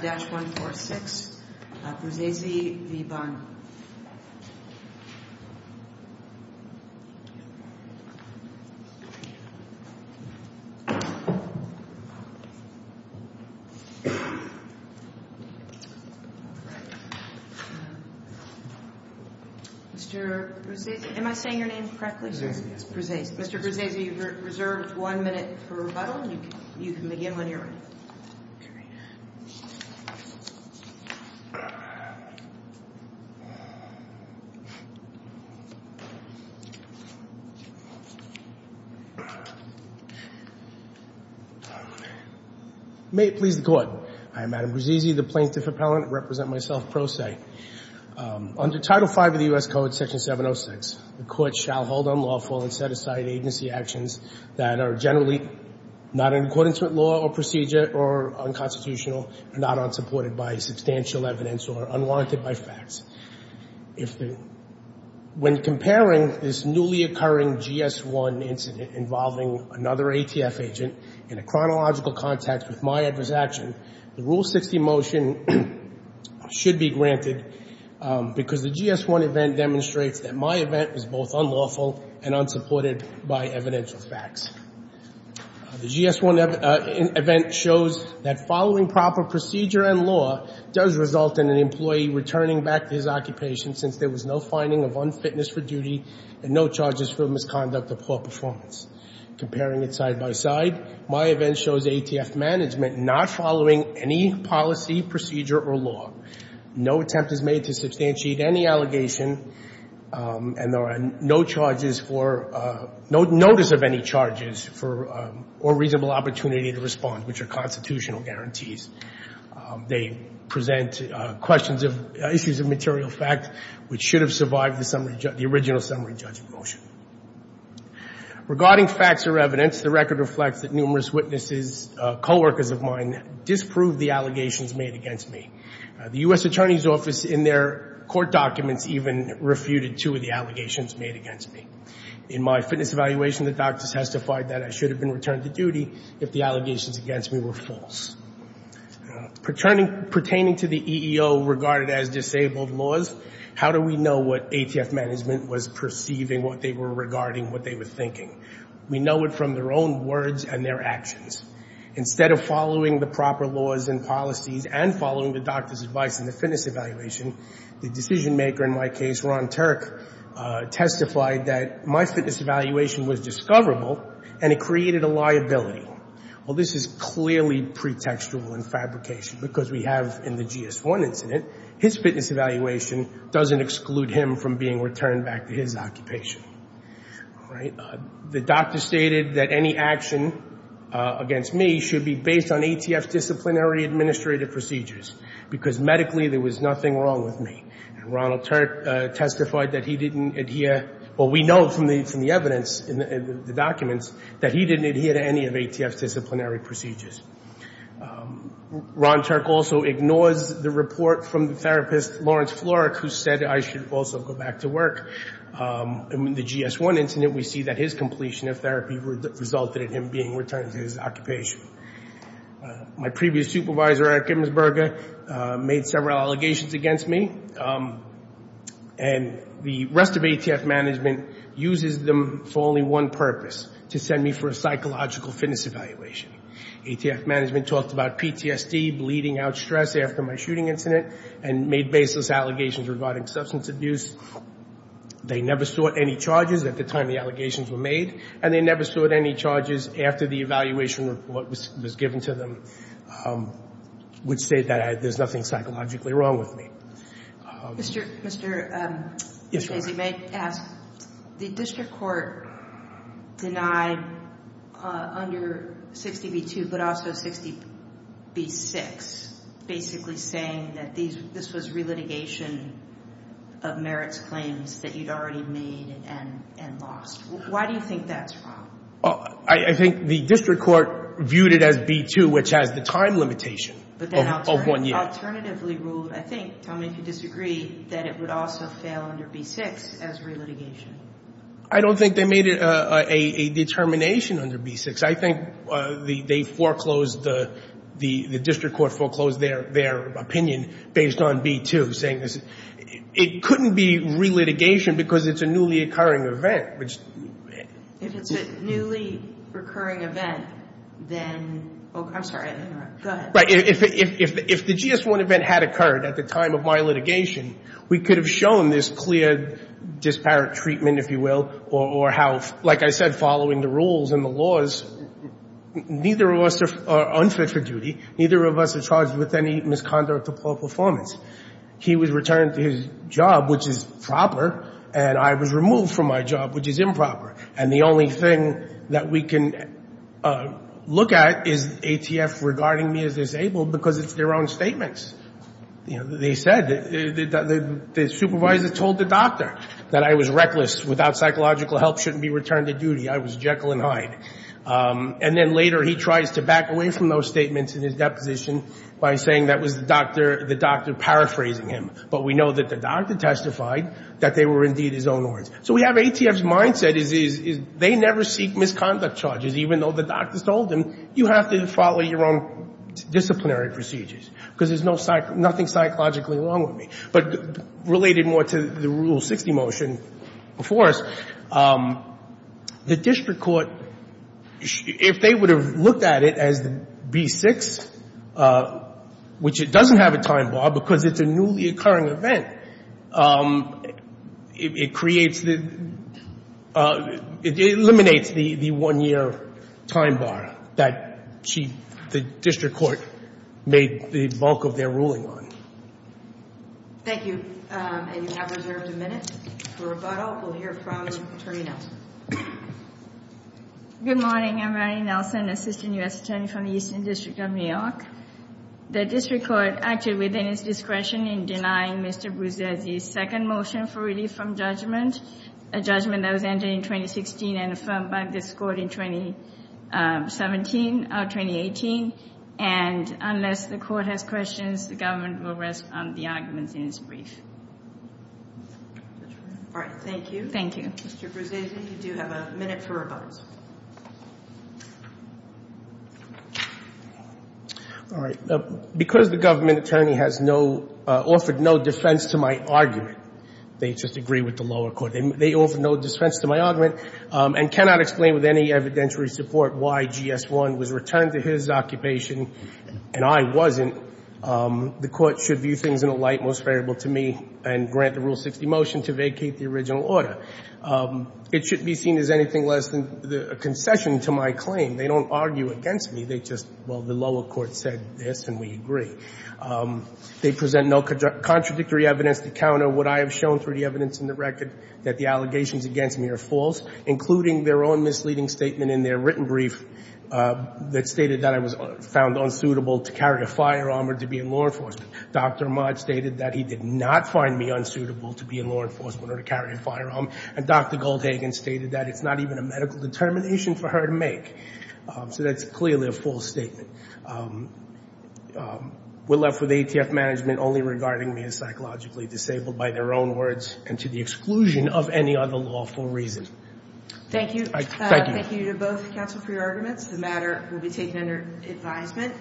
Mr. Bruzzese, am I saying your name correctly, sir? Mr. Bruzzese, you're reserved one minute for rebuttal. You can begin when you're ready. May it please the Court. I am Adam Bruzzese, the plaintiff appellant. I represent myself pro se. Under Title V of the U.S. Code, Section 706, the Court shall hold unlawful and set aside agency actions that are generally not in accordance with law or procedure or unconstitutional and not unsupported by substantial evidence or unwarranted by facts. When comparing this newly occurring GS-1 incident involving another ATF agent in a chronological context with my adverse action, the Rule 60 motion should be granted because the GS-1 event demonstrates that my event is both unlawful and unsupported by evidential facts. The GS-1 event shows that following proper procedure and law does result in an employee returning back to his occupation since there was no finding of unfitness for duty and no charges for misconduct or poor performance. Comparing it side by side, my event shows ATF management not following any policy, procedure, or law. No attempt is made to substantiate any allegation and there are no charges for no notice of any charges for or reasonable opportunity to respond, which are constitutional guarantees. They present questions of issues of material facts which should have survived the original summary judgment motion. Regarding facts or evidence, the record reflects that numerous witnesses, coworkers of mine, disproved the allegations made against me. The U.S. Attorney's Office in their court documents even refuted two of the allegations made against me. In my fitness evaluation, the doctors testified that I should have been returned to duty if the allegations against me were false. Pertaining to the EEO regarded as disabled laws, how do we know what ATF management was perceiving, what they were regarding, what they were thinking? We know it from their own words and their actions. Instead of following the proper laws and policies and following the doctor's advice in the fitness evaluation, the decision maker in my case, Ron Turk, testified that my fitness evaluation was discoverable and it created a liability. Well, this is clearly pretextual in fabrication because we have in the GS1 incident, his fitness evaluation doesn't exclude him from being returned back to his occupation. The doctor stated that any action against me should be based on ATF disciplinary administrative procedures because medically there was nothing wrong with me. And Ron Turk testified that he didn't adhere. Well, we know from the evidence in the documents that he didn't adhere to any of ATF's disciplinary procedures. Ron Turk also ignores the report from the therapist, Lawrence Florek, who said I should also go back to work. In the GS1 incident, we see that his completion of therapy resulted in him being returned to his occupation. My previous supervisor, Eric Immersberger, made several allegations against me and the rest of ATF management uses them for only one purpose, to send me for a psychological fitness evaluation. ATF management talked about PTSD, bleeding out stress after my shooting incident and made baseless allegations regarding substance abuse. They never sought any charges at the time the allegations were made and they never sought any charges after the evaluation report was given to them, which said that there's nothing psychologically wrong with me. The district court denied under 60B2 but also 60B6 basically saying that this was relitigation of merits claims that you'd already made and lost. Why do you think that's wrong? I think the district court viewed it as B2, which has the time limitation of one year. But they alternatively ruled, I think, tell me if you disagree, that it would also fail under B6 as relitigation. I don't think they made it a determination under B6. I think they foreclosed, the district court foreclosed their opinion based on B2 saying this. It couldn't be relitigation because it's a newly occurring event. If it's a newly recurring event, then, I'm sorry, go ahead. If the GS1 event had occurred at the time of my litigation, we could have shown this clear disparate treatment, if you will, or how, like I said, following the rules and the laws, neither of us are unfit for duty, neither of us are charged with any misconduct or poor performance. He was returned to his job, which is proper, and I was removed from my job, which is improper. And the only thing that we can look at is ATF regarding me as disabled because it's their own statements. They said, the supervisor told the doctor that I was reckless, without psychological help shouldn't be returned to duty, I was Jekyll and Hyde. And then later he tries to back away from those statements in his deposition by saying that was the doctor paraphrasing him, but we know that the doctor testified that they were indeed his own words. So we have ATF's mindset is they never seek misconduct charges, even though the doctor told them, you have to follow your own disciplinary procedures, because there's nothing psychologically wrong with me. But related more to the Rule 60 motion before us, the district court, if they would have looked at it as the B-6, which it doesn't have a time bar because it's a newly occurring event, it creates the — it eliminates the one-year time bar that she — the district court made the bulk of their ruling on. Thank you. And you have reserved a minute for rebuttal. We'll hear from Attorney Nelson. Good morning. I'm Ronnie Nelson, assistant U.S. attorney from the Eastern District of New York. The district court acted within its discretion in denying Mr. Brzezinski's second motion for relief from judgment, a judgment that was entered in 2016 and affirmed by this court in 2017 or 2018. And unless the court has questions, the government will rest on the arguments in its brief. All right. Thank you. Thank you. Mr. Brzezinski, you do have a minute for rebuttal. All right. Because the government attorney has no — offered no defense to my argument, they just agree with the lower court. They offered no defense to my argument and cannot explain with any evidentiary support why GS-1 was returned to his occupation and I wasn't. The court should view things in a light most favorable to me and grant the Rule 60 motion to vacate the original order. It shouldn't be seen as anything less than a concession to my claim. They don't argue against me. They just — well, the lower court said this, and we agree. They present no contradictory evidence to counter what I have shown through the evidence in the record, that the allegations against me are false, including their own misleading statement in their written brief that stated that I was found unsuitable to carry a firearm or to be in law enforcement. Dr. Ahmad stated that he did not find me unsuitable to be in law enforcement or to carry a firearm. And Dr. Goldhagen stated that it's not even a medical determination for her to make. So that's clearly a false statement. We're left with ATF management only regarding me as psychologically disabled by their own words and to the exclusion of any other lawful reason. Thank you. Thank you. Thank you to both counsel for your arguments. The matter will be taken under advisement.